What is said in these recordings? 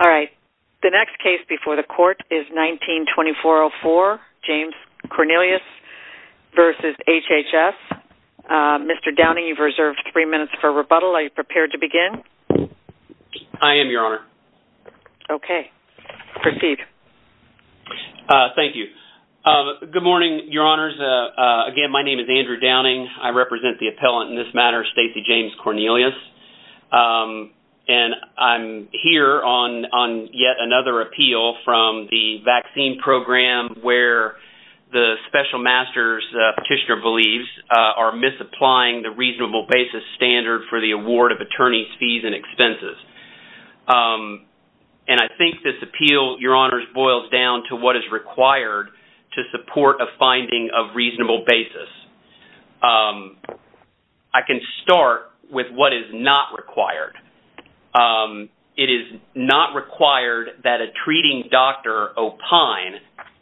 Alright, the next case before the court is 19-2404, James-Cornelius v. HHS. Mr. Downing, you've reserved three minutes for rebuttal. Are you prepared to begin? I am, Your Honor. Okay, proceed. Thank you. Good morning, Your Honors. Again, my name is Andrew Downing. I represent the appellant in this matter, Stacy James-Cornelius. And I'm here on yet another appeal from the vaccine program where the special master's petitioner believes are misapplying the reasonable basis standard for the award of attorney's fees and expenses. And I think this appeal, Your Honors, boils down to what is required to support a finding of reasonable basis. I can start with what is not required. It is not required that a treating doctor opine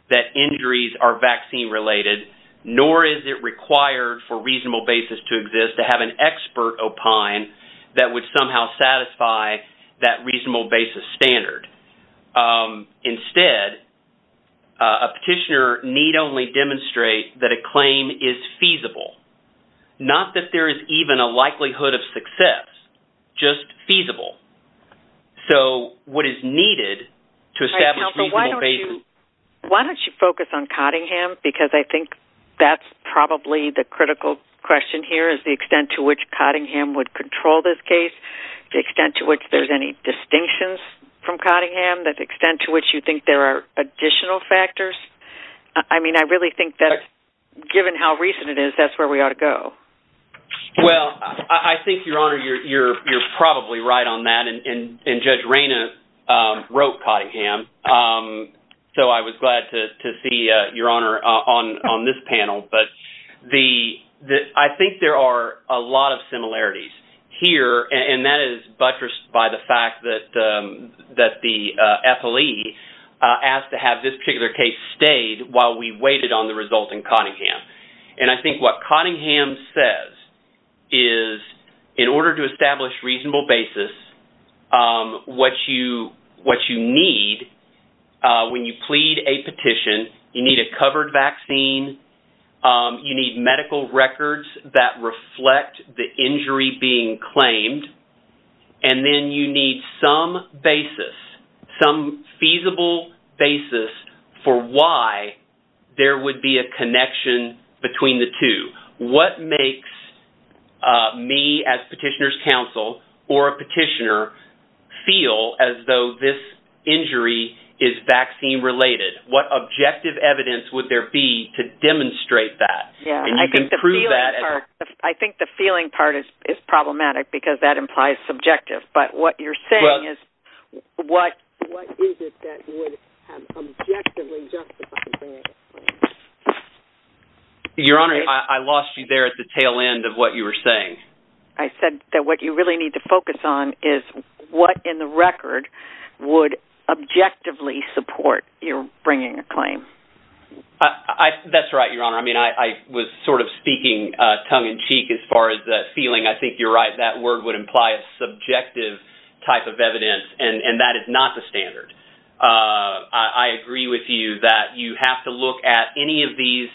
that injuries are vaccine-related, nor is it required for reasonable basis to exist to have an expert opine that would somehow satisfy that reasonable basis standard. Instead, a petitioner need only demonstrate that a claim is feasible, not that there is even a likelihood of success, just feasible. So what is needed to establish reasonable basis... Why don't you focus on Cottingham because I think that's probably the critical question here is the extent to which Cottingham would control this case, the extent to which there's any distinctions from Cottingham, the extent to which you think there are additional factors. I mean, I really think that given how recent it is, that's where we ought to go. Well, I think, Your Honor, you're probably right on that, and Judge Rayna wrote Cottingham, so I was glad to see Your Honor on this panel. But I think there are a lot of similarities here, and that is buttressed by the fact that the FLE asked to have this particular case stayed while we waited on the result in Cottingham. And I think what Cottingham says is in order to establish reasonable basis, what you need when you plead a petition, you need a covered vaccine, you need medical records that reflect the injury being claimed, and then you need some basis, some feasible basis for why there would be a connection between the two. What makes me as petitioner's counsel or a petitioner feel as though this injury is vaccine-related? What objective evidence would there be to demonstrate that? I think the feeling part is problematic because that implies subjective, but what you're saying is what is it that would objectively justify bringing a claim? Your Honor, I lost you there at the tail end of what you were saying. I said that what you really need to focus on is what in the record would objectively support your bringing a claim. That's right, Your Honor. I mean, I was sort of speaking tongue-in-cheek as far as that feeling. I think you're right. That word would imply a subjective type of evidence, and that is not the standard. I agree with you that you have to look at any of these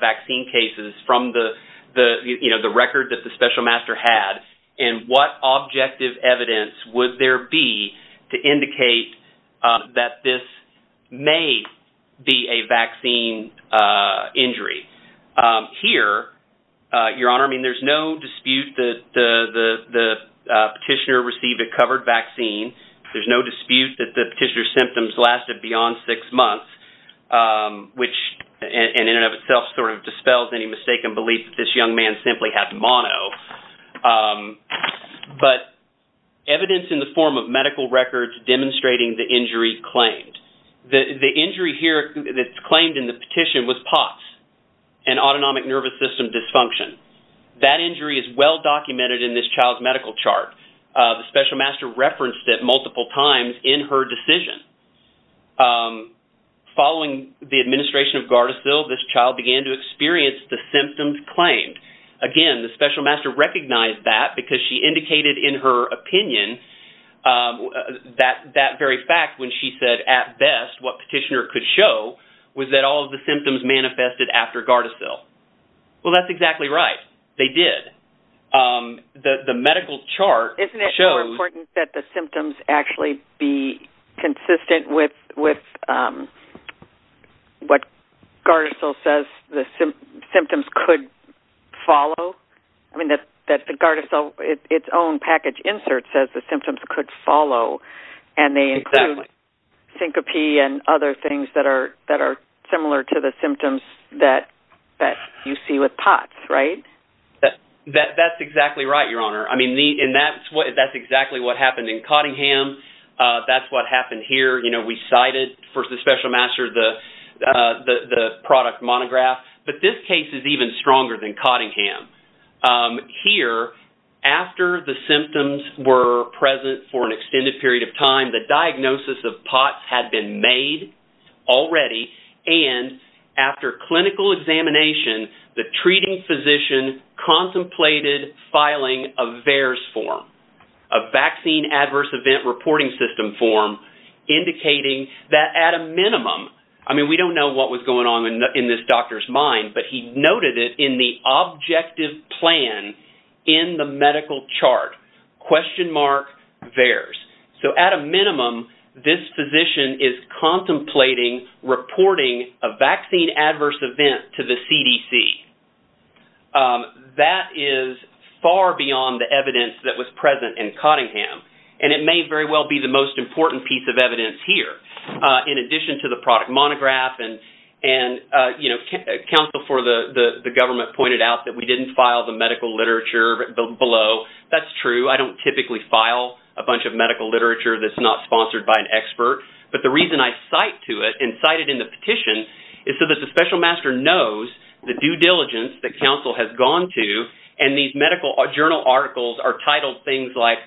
vaccine cases from the record that the special master had, and what objective evidence would there be to indicate that this may be a vaccine injury? Here, Your Honor, I mean, there's no dispute that the petitioner received a covered vaccine. There's no dispute that the petitioner's symptoms lasted beyond six months, which in and of itself sort of dispels any mistaken belief that this young man simply had mono. But evidence in the form of medical records demonstrating the injury claimed. The injury here that's claimed in the petition was POTS, an autonomic nervous system dysfunction. That injury is well documented in this child's medical chart. The special master referenced it multiple times in her decision. Following the administration of Gardasil, this child began to experience the symptoms claimed. Again, the special master recognized that because she indicated in her opinion that very fact when she said, at best, what petitioner could show was that all of the symptoms manifested after Gardasil. Well, that's exactly right. They did. The medical chart shows... Isn't it more important that the symptoms actually be consistent with what Gardasil says the symptoms could follow? I mean, that Gardasil, its own package insert says the symptoms could follow, and they include syncope and other things that are similar to the symptoms that you see with POTS, right? That's exactly right, Your Honor. I mean, and that's exactly what happened in Cottingham. That's what happened here. You know, we cited for the special master the product monograph. But this case is even stronger than Cottingham. Here, after the symptoms were present for an extended period of time, the diagnosis of POTS had been made already. And after clinical examination, the treating physician contemplated filing a VAERS form, a Vaccine Adverse Event Reporting System form, indicating that at a minimum... I mean, we don't know what was going on in this doctor's mind, but he noted it in the objective plan in the medical chart, question mark VAERS. So, at a minimum, this physician is contemplating reporting a vaccine adverse event to the CDC. That is far beyond the evidence that was present in Cottingham, and it may very well be the most important piece of evidence here in addition to the product monograph. And, you know, counsel for the government pointed out that we didn't file the medical literature below. That's true. I don't typically file a bunch of medical literature that's not sponsored by an expert. But the reason I cite to it and cite it in the petition is so that the special master knows the due diligence that counsel has gone to. And these medical journal articles are titled things like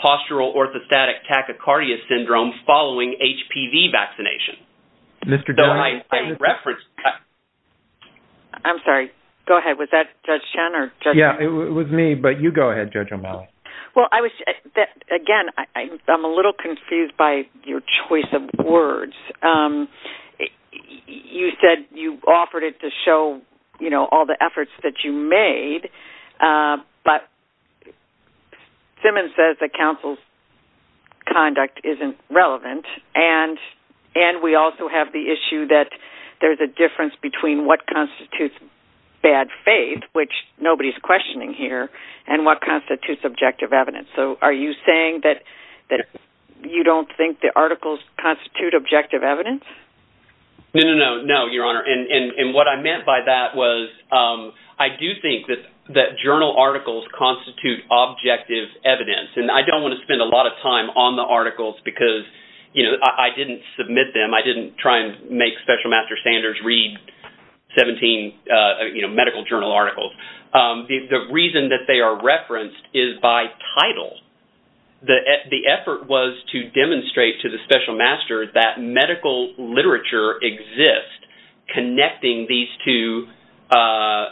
Postural Orthostatic Tachycardia Syndrome Following HPV Vaccination. So, I referenced... I'm sorry. Go ahead. Was that Judge Chen or Judge O'Malley? Yeah, it was me. But you go ahead, Judge O'Malley. Well, I was... Again, I'm a little confused by your choice of words. You said you offered it to show, you know, all the efforts that you made, but Simmons says that counsel's conduct isn't relevant. And we also have the issue that there's a difference between what constitutes bad faith, which nobody's questioning here, and what constitutes objective evidence. So, are you saying that you don't think the articles constitute objective evidence? No, no, no, Your Honor. And what I meant by that was I do think that journal articles constitute objective evidence. And I don't want to spend a lot of time on the articles because, you know, I didn't submit them. I didn't try and make Special Master Sanders read 17, you know, medical journal articles. The reason that they are referenced is by title. The effort was to demonstrate to the Special Master that medical literature exists connecting these two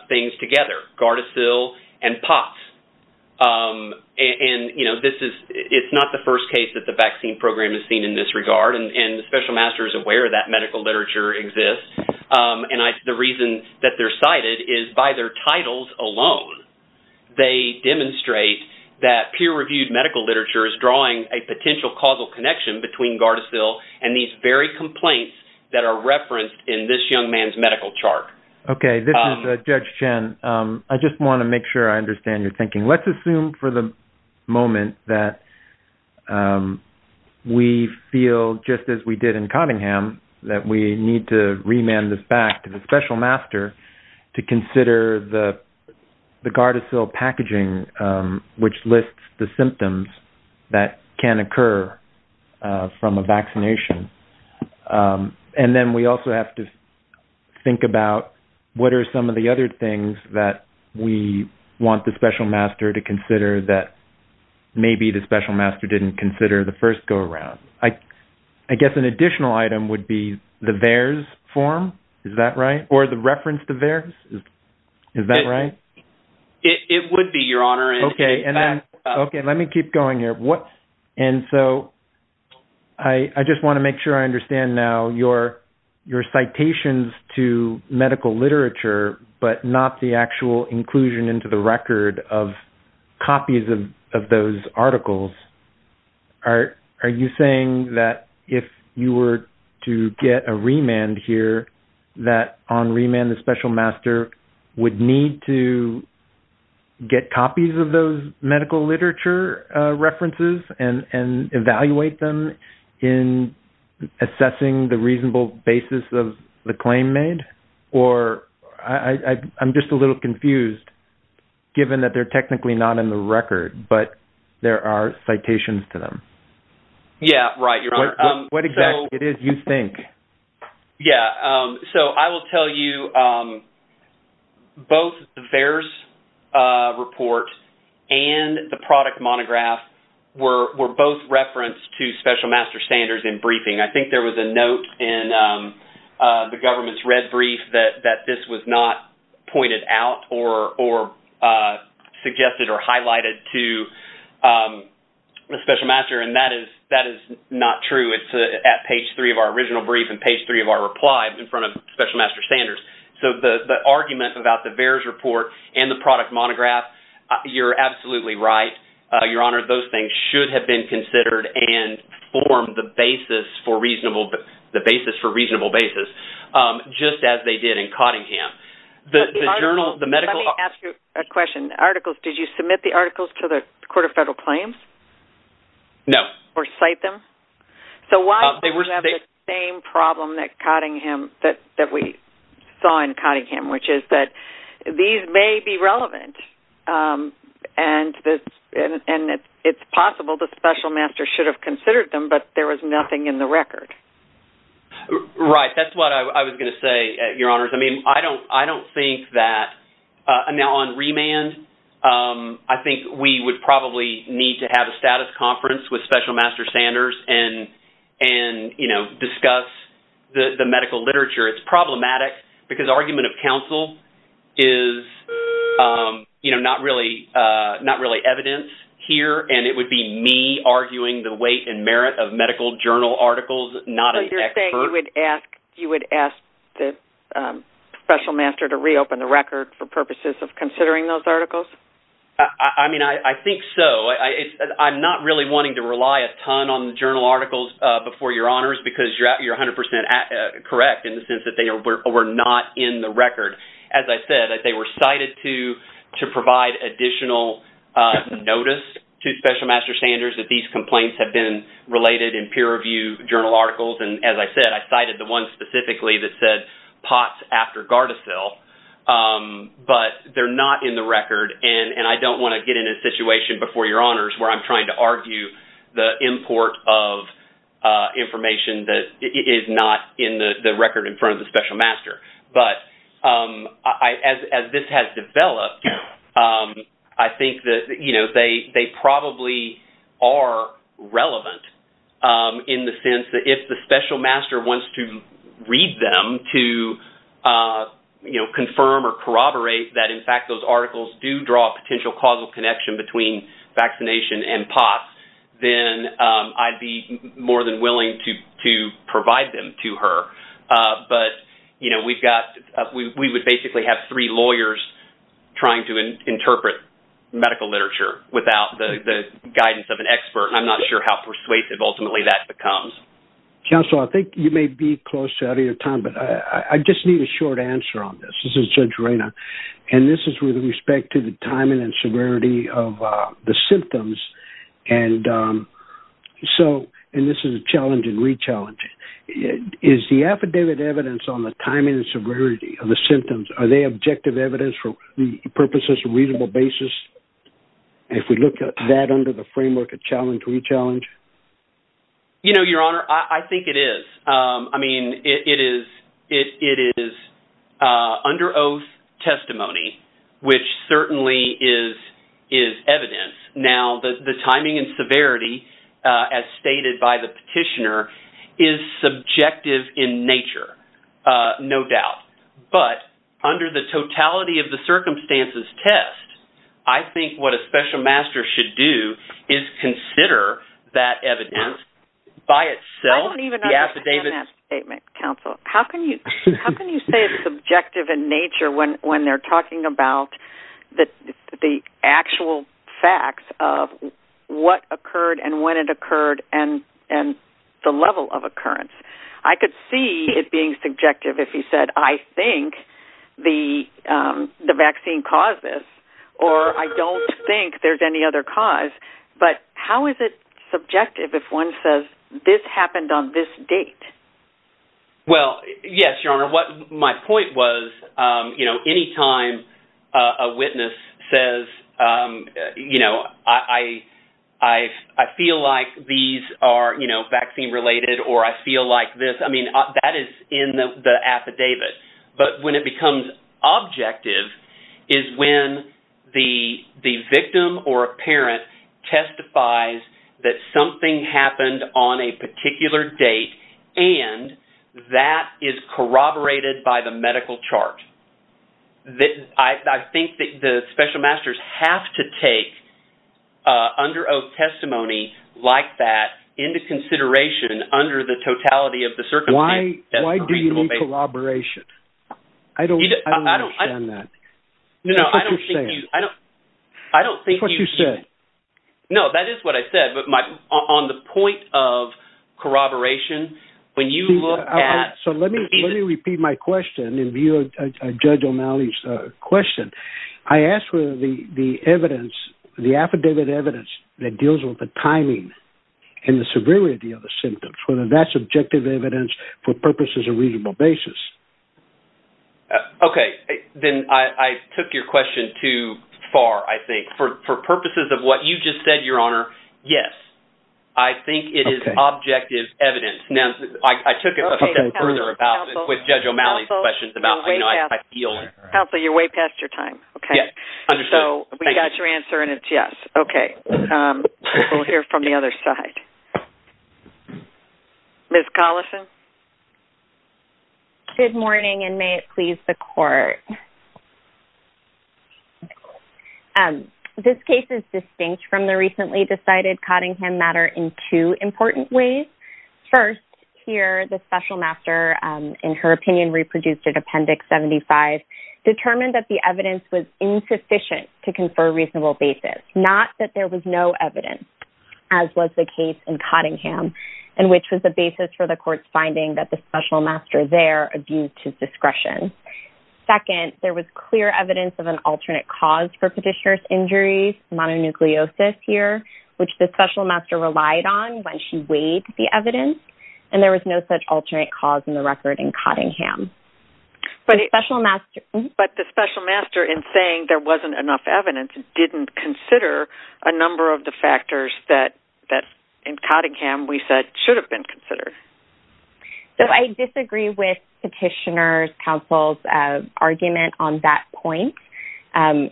things together, Gardasil and POTS. And, you know, this is-it's not the first case that the vaccine program has seen in this regard. And the Special Master is aware that medical literature exists. And the reason that they're cited is by their titles alone. They demonstrate that peer-reviewed medical literature is drawing a potential causal connection between Gardasil and these very complaints that are referenced in this young man's medical chart. Okay, this is Judge Chen. I just want to make sure I understand your thinking. Let's assume for the moment that we feel, just as we did in Cottingham, that we need to remand this back to the Special Master to consider the Gardasil packaging which lists the symptoms that can occur from a vaccination. And then we also have to think about what are some of the other things that we want the Special Master to consider that maybe the Special Master didn't consider the first go-around. I guess an additional item would be the VAERS form. Is that right? Or the reference to VAERS. Is that right? It would be, Your Honor. Okay, and then-okay, let me keep going here. And so I just want to make sure I understand now your citations to medical literature but not the actual inclusion into the record of copies of those articles. Are you saying that if you were to get a remand here, that on remand the Special Master would need to get copies of those medical literature references and evaluate them in assessing the reasonable basis of the claim made? Or I'm just a little confused, given that they're technically not in the record, but there are citations to them. Yeah, right, Your Honor. What exactly do you think? Yeah, so I will tell you both the VAERS report and the product monograph were both referenced to Special Master Standards in briefing. I think there was a note in the government's red brief that this was not pointed out or suggested or highlighted to Special Master. And that is not true. It's at page three of our original brief and page three of our reply in front of Special Master Standards. So the argument about the VAERS report and the product monograph, you're absolutely right, Your Honor. Those things should have been considered and formed the basis for reasonable basis, just as they did in Cottingham. Let me ask you a question. Did you submit the articles to the Court of Federal Claims? No. Or cite them? So why do we have the same problem that we saw in Cottingham, which is that these may be relevant and it's possible that Special Master should have considered them, but there was nothing in the record? Right. That's what I was going to say, Your Honors. Now on remand, I think we would probably need to have a status conference with Special Master Standards and discuss the medical literature. It's problematic because argument of counsel is not really evidence here, and it would be me arguing the weight and merit of medical journal articles, not an expert. Are you saying you would ask Special Master to reopen the record for purposes of considering those articles? I mean, I think so. I'm not really wanting to rely a ton on the journal articles before, Your Honors, because you're 100% correct in the sense that they were not in the record. As I said, they were cited to provide additional notice to Special Master Standards that these complaints had been related in peer-reviewed journal articles. As I said, I cited the one specifically that said POTS after Gardasil, but they're not in the record. I don't want to get in a situation before, Your Honors, where I'm trying to argue the import of information that is not in the record in front of the Special Master. But as this has developed, I think that they probably are relevant in the sense that if the Special Master wants to read them to confirm or corroborate that, in fact, those articles do draw a potential causal connection between vaccination and POTS, then I'd be more than willing to provide them to her. But we would basically have three lawyers trying to interpret medical literature without the guidance of an expert. I'm not sure how persuasive, ultimately, that becomes. Counsel, I think you may be close to out of your time, but I just need a short answer on this. This is Judge Reyna, and this is with respect to the timing and severity of the symptoms. And this is a challenge and re-challenge. Is the affidavit evidence on the timing and severity of the symptoms, are they objective evidence for purposes of reasonable basis? If we look at that under the framework of challenge, re-challenge? You know, Your Honor, I think it is. I mean, it is under oath testimony, which certainly is evidence. Now, the timing and severity, as stated by the petitioner, is subjective in nature, no doubt. But under the totality of the circumstances test, I think what a Special Master should do is consider that evidence by itself. I don't even understand that statement, Counsel. How can you say it's subjective in nature when they're talking about the actual facts of what occurred and when it occurred and the level of occurrence? I could see it being subjective if you said, I think the vaccine caused this, or I don't think there's any other cause. But how is it subjective if one says, this happened on this date? Well, yes, Your Honor. My point was, you know, any time a witness says, you know, I feel like these are, you know, vaccine-related or I feel like this, I mean, that is in the affidavit. But when it becomes objective is when the victim or a parent testifies that something happened on a particular date and that is corroborated by the medical chart. I think that the Special Masters have to take under oath testimony like that into consideration under the totality of the circumstances. Why do you need corroboration? I don't understand that. No, I don't think you... That's what you said. No, that is what I said, but on the point of corroboration, when you look at... Okay, then I took your question too far, I think. For purposes of what you just said, Your Honor, yes, I think it is objective evidence. Now, I took it a step further with Judge O'Malley's questions about, you know, I feel... Counsel, you're way past your time. Yes, understood. So, we got your answer and it's yes. Okay. We'll hear from the other side. Ms. Collison? Good morning, and may it please the Court. This case is distinct from the recently decided Cottingham matter in two important ways. First, here, the Special Master, in her opinion, reproduced at Appendix 75, determined that the evidence was insufficient to confer reasonable basis, not that there was no evidence, as was the case in Cottingham, and which was the basis for the Court's finding that the Special Master there abused his discretion. Second, there was clear evidence of an alternate cause for Petitioner's injuries, mononucleosis, here, which the Special Master relied on when she weighed the evidence, and there was no such alternate cause in the record in Cottingham. But the Special Master... But the Special Master, in saying there wasn't enough evidence, didn't consider a number of the factors that, in Cottingham, we said should have been considered. So, I disagree with Petitioner's counsel's argument on that point. The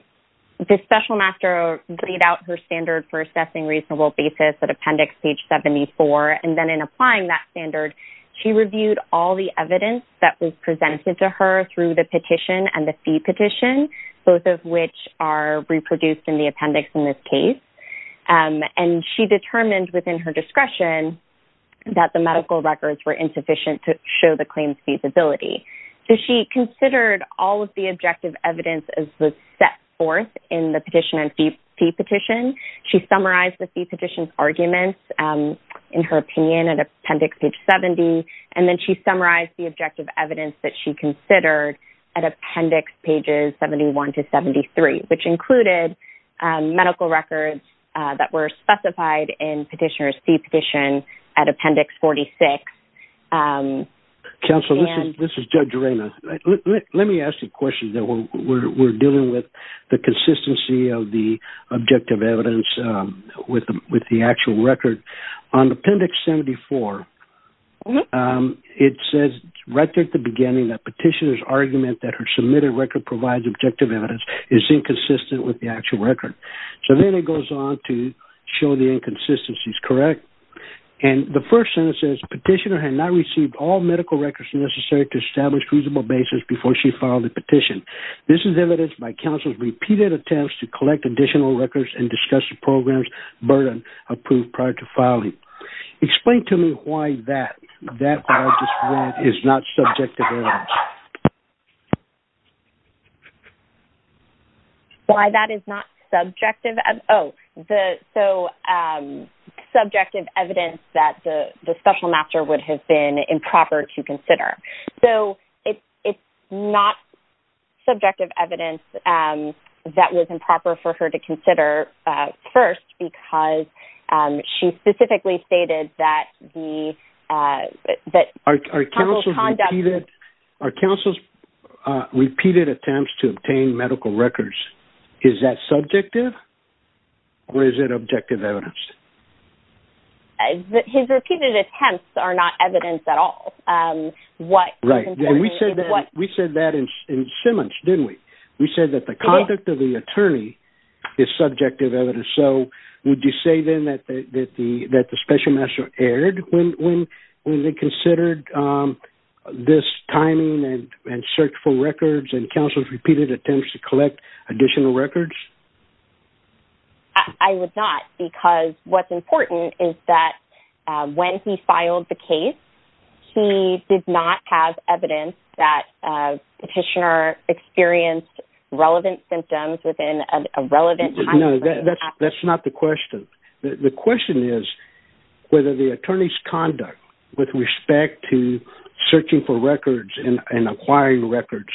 Special Master laid out her standard for assessing reasonable basis at Appendix 74, and then, in applying that standard, she reviewed all the evidence that was presented to her through the petition and the fee petition, both of which are reproduced in the appendix in this case. And she determined, within her discretion, that the medical records were insufficient to show the claim's feasibility. So, she considered all of the objective evidence as was set forth in the petition and fee petition. She summarized the fee petition's arguments, in her opinion, at Appendix 70, and then she summarized the objective evidence that she considered at Appendix pages 71 to 73, which included medical records that were specified in Petitioner's fee petition at Appendix 46. Counsel, this is Judge Arena. Let me ask you a question. We're dealing with the consistency of the objective evidence with the actual record. On Appendix 74, it says right at the beginning that Petitioner's argument that her submitted record provides objective evidence is inconsistent with the actual record. So, then it goes on to show the inconsistencies, correct? And the first sentence says, Petitioner had not received all medical records necessary to establish a feasible basis before she filed the petition. This is evidenced by Counsel's repeated attempts to collect additional records and discuss the program's burden approved prior to filing. Explain to me why that, what I just read, is not subjective evidence. Why that is not subjective evidence? Oh, so, subjective evidence that the Special Master would have been improper to consider. So, it's not subjective evidence that was improper for her to consider first because she specifically stated that the… Are Counsel's repeated? Are Counsel's repeated attempts to obtain medical records, is that subjective or is it objective evidence? His repeated attempts are not evidence at all. Right. And we said that in Simmons, didn't we? We said that the conduct of the attorney is subjective evidence. So, would you say then that the Special Master erred when they considered this timing and searched for records and Counsel's repeated attempts to collect additional records? I would not because what's important is that when he filed the case, he did not have evidence that Petitioner experienced relevant symptoms within a relevant timeframe. But that's not the question. The question is whether the attorney's conduct with respect to searching for records and acquiring records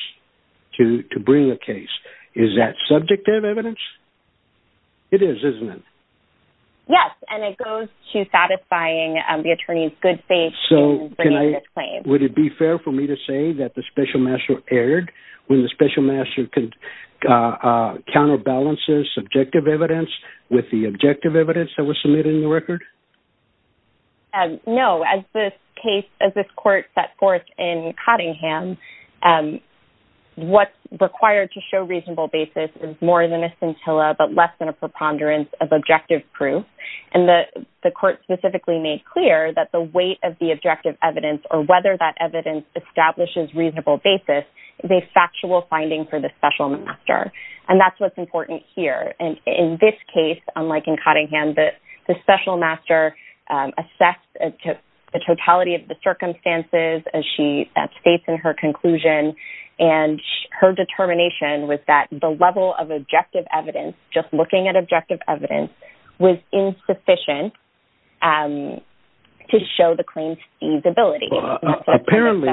to bring a case, is that subjective evidence? It is, isn't it? Yes, and it goes to satisfying the attorney's good faith in bringing this claim. Would it be fair for me to say that the Special Master erred when the Special Master counterbalances subjective evidence with the objective evidence that was submitted in the record? No. As this case, as this court set forth in Cottingham, what's required to show reasonable basis is more than a scintilla but less than a preponderance of objective proof. And the court specifically made clear that the weight of the objective evidence or whether that evidence establishes reasonable basis is a factual finding for the Special Master. And that's what's important here. And in this case, unlike in Cottingham, the Special Master assessed the totality of the circumstances as she states in her conclusion. And her determination was that the level of objective evidence, just looking at objective evidence, was insufficient to show the claim's feasibility. Apparently,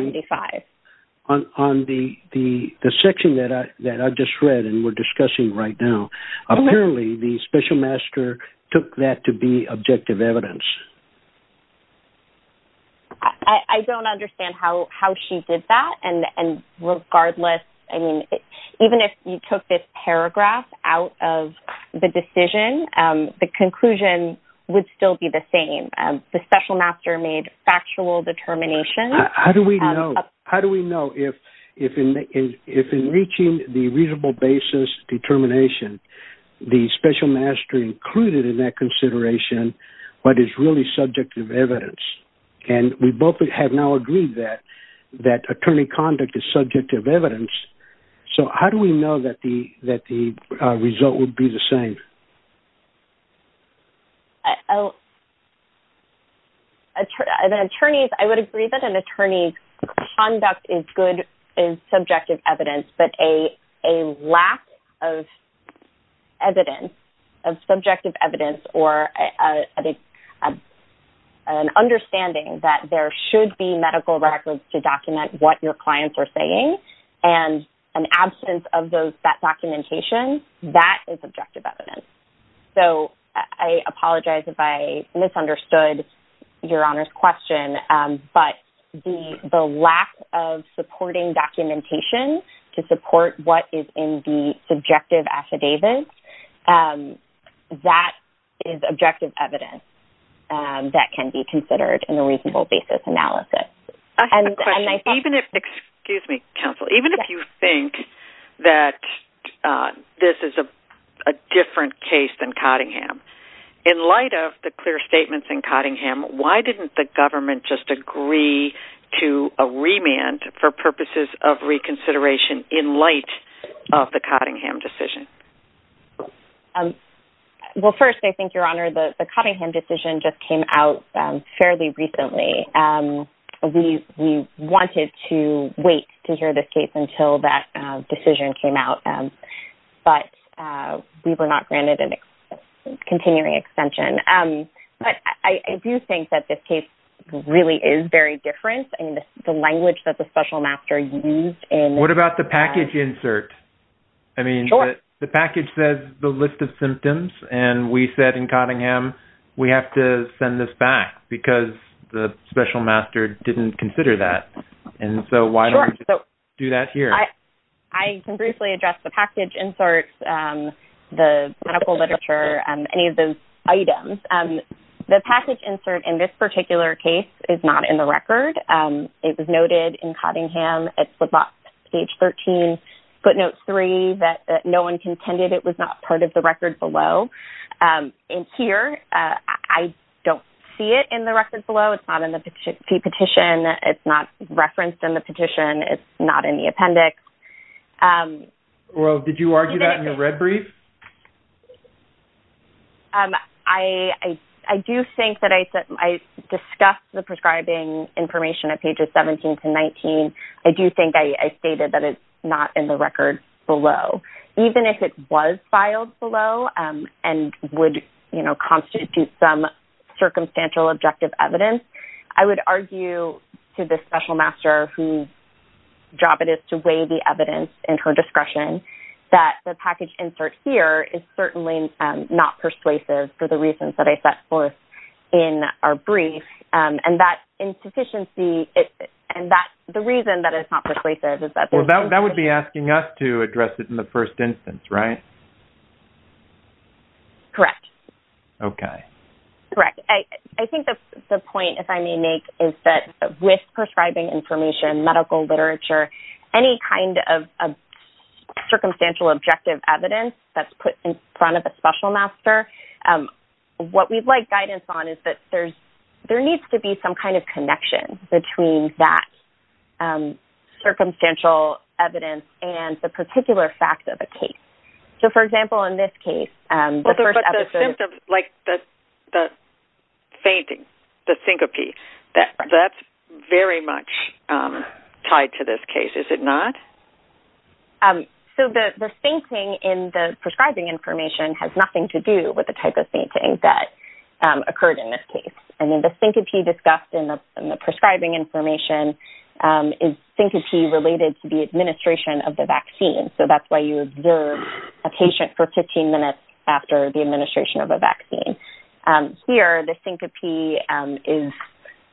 on the section that I just read and we're discussing right now, apparently the Special Master took that to be objective evidence. I don't understand how she did that. And regardless, I mean, even if you took this paragraph out of the decision, the conclusion would still be the same. The Special Master made factual determination. How do we know if in reaching the reasonable basis determination, the Special Master included in that consideration what is really subjective evidence? And we both have now agreed that attorney conduct is subjective evidence. So how do we know that the result would be the same? I would agree that an attorney's conduct is good in subjective evidence, but a lack of evidence, of subjective evidence or an understanding that there should be medical records to document what your clients are saying and an absence of that documentation, that is objective evidence. So I apologize if I misunderstood Your Honor's question, but the lack of supporting documentation to support what is in the subjective affidavits, that is objective evidence that can be considered in a reasonable basis analysis. Excuse me, counsel. Even if you think that this is a different case than Cottingham, in light of the clear statements in Cottingham, why didn't the government just agree to a remand for purposes of reconsideration in light of the Cottingham decision? Well, first, I think, Your Honor, the Cottingham decision just came out fairly recently. We wanted to wait to hear this case until that decision came out, but we were not granted a continuing extension. But I do think that this case really is very different in the language that the special master used. What about the package insert? I mean, the package says the list of symptoms, and we said in Cottingham, we have to send this back because the special master didn't consider that. And so why don't we just do that here? I can briefly address the package inserts, the medical literature, and any of those items. The package insert in this particular case is not in the record. It was noted in Cottingham at footnotes 13, footnotes 3, that no one contended it was not part of the record below. And here, I don't see it in the record below. It's not in the petition. It's not referenced in the petition. It's not in the appendix. Well, did you argue that in your red brief? I do think that I discussed the prescribing information at pages 17 to 19. I do think I stated that it's not in the record below. Even if it was filed below and would constitute some circumstantial objective evidence, I would argue to the special master, whose job it is to weigh the evidence in her discretion, that the package insert here is certainly not persuasive for the reasons that I set forth in our brief. And that insufficiency, and the reason that it's not persuasive is that there's... Well, that would be asking us to address it in the first instance, right? Correct. Okay. Correct. I think the point, if I may make, is that with prescribing information, medical literature, any kind of circumstantial objective evidence that's put in front of a special master, what we'd like guidance on is that there needs to be some kind of connection between that circumstantial evidence and the particular fact of the case. So, for example, in this case, the first episode... But the symptoms, like the fainting, the syncope, that's very much tied to this case, is it not? So, the fainting in the prescribing information has nothing to do with the type of fainting that occurred in this case. And then the syncope discussed in the prescribing information is syncope related to the administration of the vaccine. So, that's why you observe a patient for 15 minutes after the administration of a vaccine. Here, the syncope is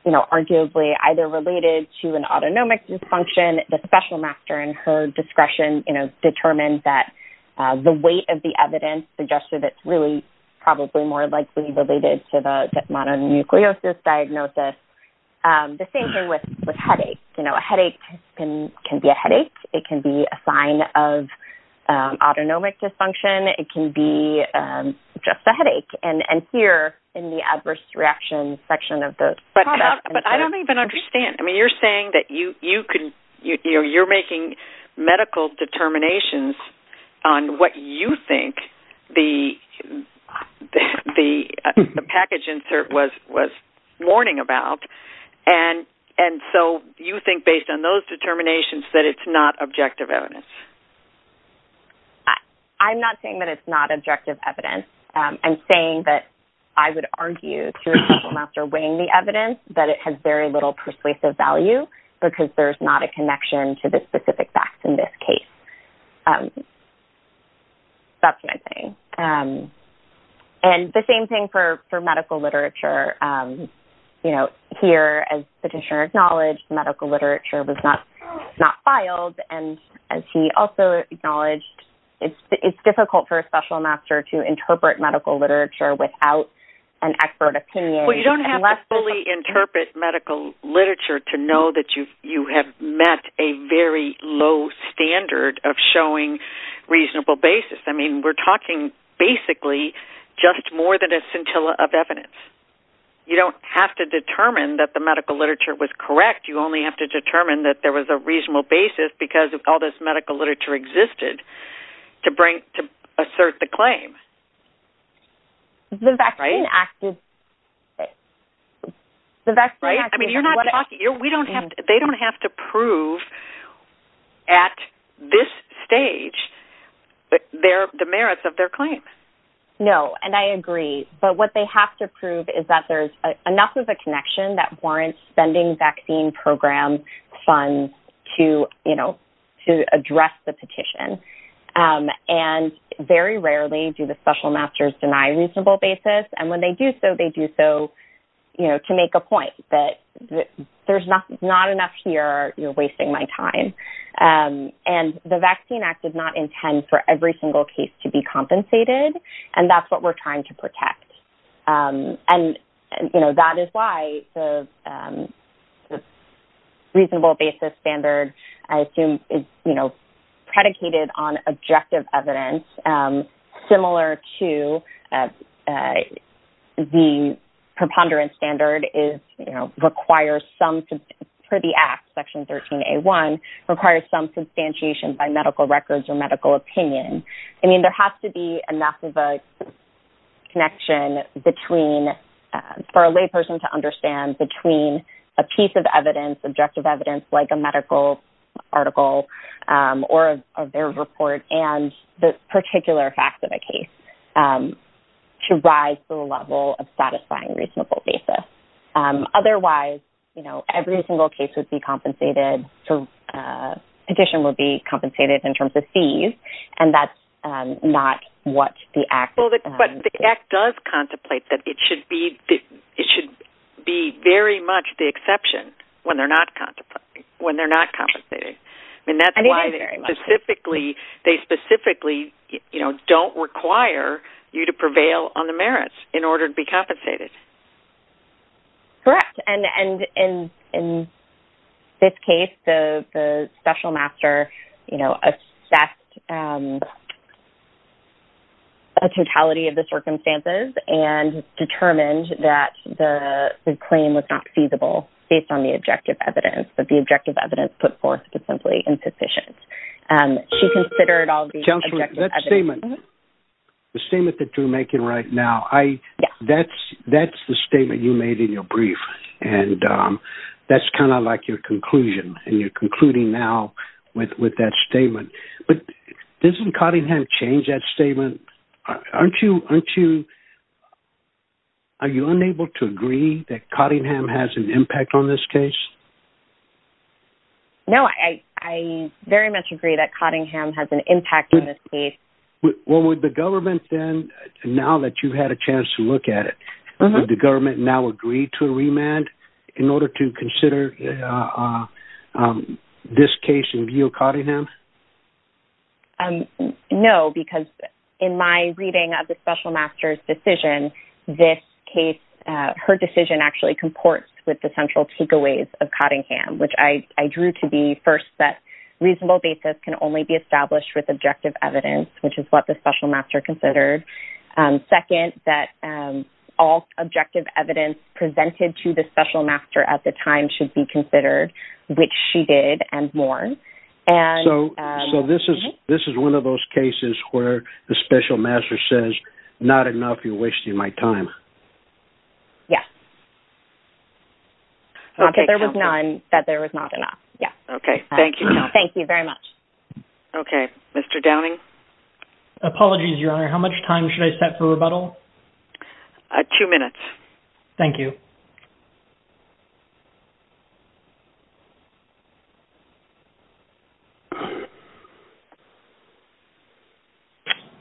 arguably either related to an autonomic dysfunction. The special master, in her discretion, determined that the weight of the evidence suggested it's really probably more likely related to the mononucleosis diagnosis. The same thing with headaches. A headache can be a headache. It can be a sign of autonomic dysfunction. It can be just a headache. And here, in the adverse reaction section of the... But I don't even understand. I mean, you're saying that you're making medical determinations on what you think the package insert was warning about. And so, you think, based on those determinations, that it's not objective evidence. I'm not saying that it's not objective evidence. I'm saying that I would argue, to a special master weighing the evidence, that it has very little persuasive value because there's not a connection to the specific facts in this case. That's what I'm saying. And the same thing for medical literature. You know, here, as Petitioner acknowledged, medical literature was not filed. And as he also acknowledged, it's difficult for a special master to interpret medical literature without an expert opinion. Well, you don't have to fully interpret medical literature to know that you have met a very low standard of showing reasonable basis. I mean, we're talking, basically, just more than a scintilla of evidence. You don't have to determine that the medical literature was correct. You only have to determine that there was a reasonable basis because all this medical literature existed to bring, to assert the claim. The vaccine acted... I mean, you're not talking... They don't have to prove, at this stage, the merits of their claim. No, and I agree. But what they have to prove is that there's enough of a connection that warrants spending vaccine program funds to address the petition. And very rarely do the special masters deny reasonable basis. And when they do so, they do so to make a point that there's not enough here. You're wasting my time. And the Vaccine Act does not intend for every single case to be compensated. And that's what we're trying to protect. And, you know, that is why the reasonable basis standard, I assume, is, you know, predicated on objective evidence, similar to the preponderance standard is, you know, requires some... Per the Act, Section 13A1, requires some substantiation by medical records or medical opinion. I mean, there has to be enough of a connection between... For a lay person to understand between a piece of evidence, objective evidence, like a medical article or their report and the particular facts of a case to rise to the level of satisfying reasonable basis. Otherwise, you know, every single case would be compensated. So petition would be compensated in terms of fees. And that's not what the Act... But the Act does contemplate that it should be very much the exception when they're not compensated. And that's why they specifically, you know, don't require you to prevail on the merits in order to be compensated. Correct. And in this case, the special master, you know, assessed a totality of the circumstances and determined that the claim was not feasible based on the objective evidence, that the objective evidence put forth was simply insufficient. She considered all the objective evidence... Counselor, that statement, the statement that you're making right now, I... Yes. That's the statement you made in your brief. And that's kind of like your conclusion. And you're concluding now with that statement. But doesn't Cottingham change that statement? Aren't you... Are you unable to agree that Cottingham has an impact on this case? No, I very much agree that Cottingham has an impact on this case. Well, would the government then, now that you've had a chance to look at it, would the government now agree to a remand in order to consider this case in view of Cottingham? No, because in my reading of the special master's decision, this case, her decision actually comports with the central takeaways of Cottingham, which I drew to be, first, that reasonable basis can only be established with objective evidence, which is what the special master considered. Second, that all objective evidence presented to the special master at the time should be considered, which she did and more. So this is one of those cases where the special master says, not enough, you're wasting my time. Yes. Not that there was none, that there was not enough. Okay, thank you. Thank you very much. Okay, Mr. Downing? Apologies, Your Honor. How much time should I set for rebuttal? Two minutes. Thank you.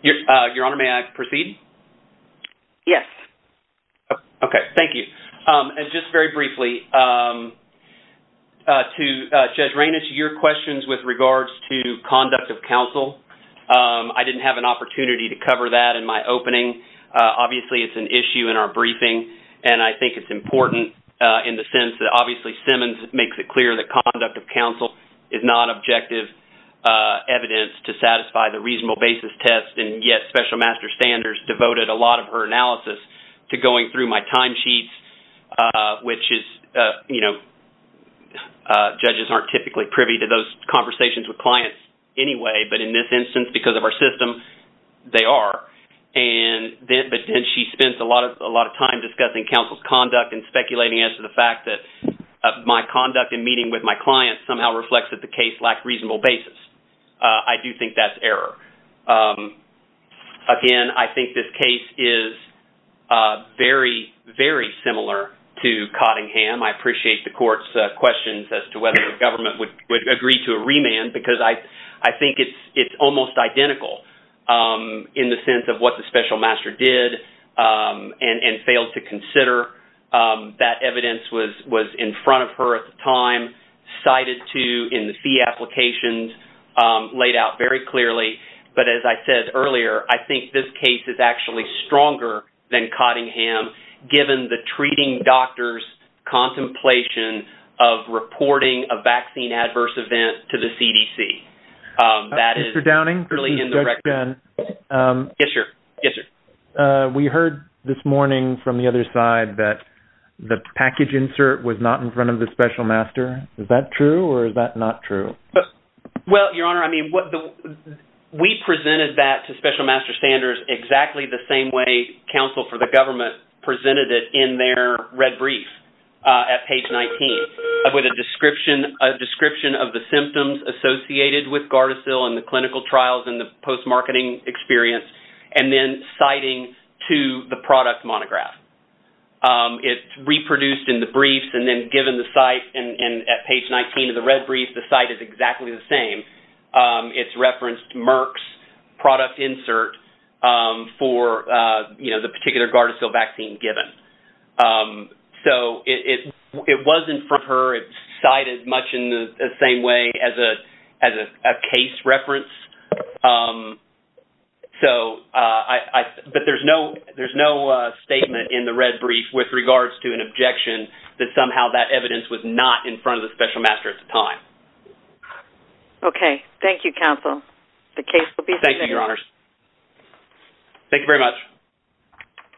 Your Honor, may I proceed? Yes. Okay, thank you. And just very briefly, to Judge Raynish, your questions with regards to conduct of counsel, I didn't have an opportunity to cover that in my opening. Obviously, it's an issue in our briefing, and I think it's important in the sense that, obviously, Simmons makes it clear that conduct of counsel is not objective evidence to satisfy the reasonable basis test, and yet special master standards devoted a lot of her analysis to going through my timesheets, which is, you know, judges aren't typically privy to those conversations with clients anyway, but in this instance, because of our system, they are. But then she spends a lot of time discussing counsel's conduct and speculating as to the fact that my conduct in meeting with my clients somehow reflects that the case lacked reasonable basis. I do think that's error. Again, I think this case is very, very similar to Cottingham. I appreciate the court's questions as to whether the government would agree to a remand because I think it's almost identical in the sense of what the special master did and failed to consider. That evidence was in front of her at the time, cited to in the fee applications, laid out very clearly. But as I said earlier, I think this case is actually stronger than Cottingham given the treating doctor's contemplation of reporting a vaccine adverse event to the CDC. That is really in the record. Yes, sir. Yes, sir. We heard this morning from the other side that the package insert was not in front of the special master. Is that true or is that not true? Well, Your Honor, we presented that to special master standards exactly the same way counsel for the government presented it in their red brief at page 19. With a description of the symptoms associated with Gardasil and the clinical trials and the post-marketing experience and then citing to the product monograph. It's reproduced in the briefs and then given the site and at page 19 of the red brief, the site is exactly the same. It's referenced Merck's product insert for, you know, the particular Gardasil vaccine given. So it wasn't from her. It's cited much in the same way as a case reference. But there's no statement in the red brief with regards to an objection that somehow that evidence was not in front of the special master at the time. Okay. Thank you, counsel. The case will be submitted. Thank you, Your Honor. Thank you very much.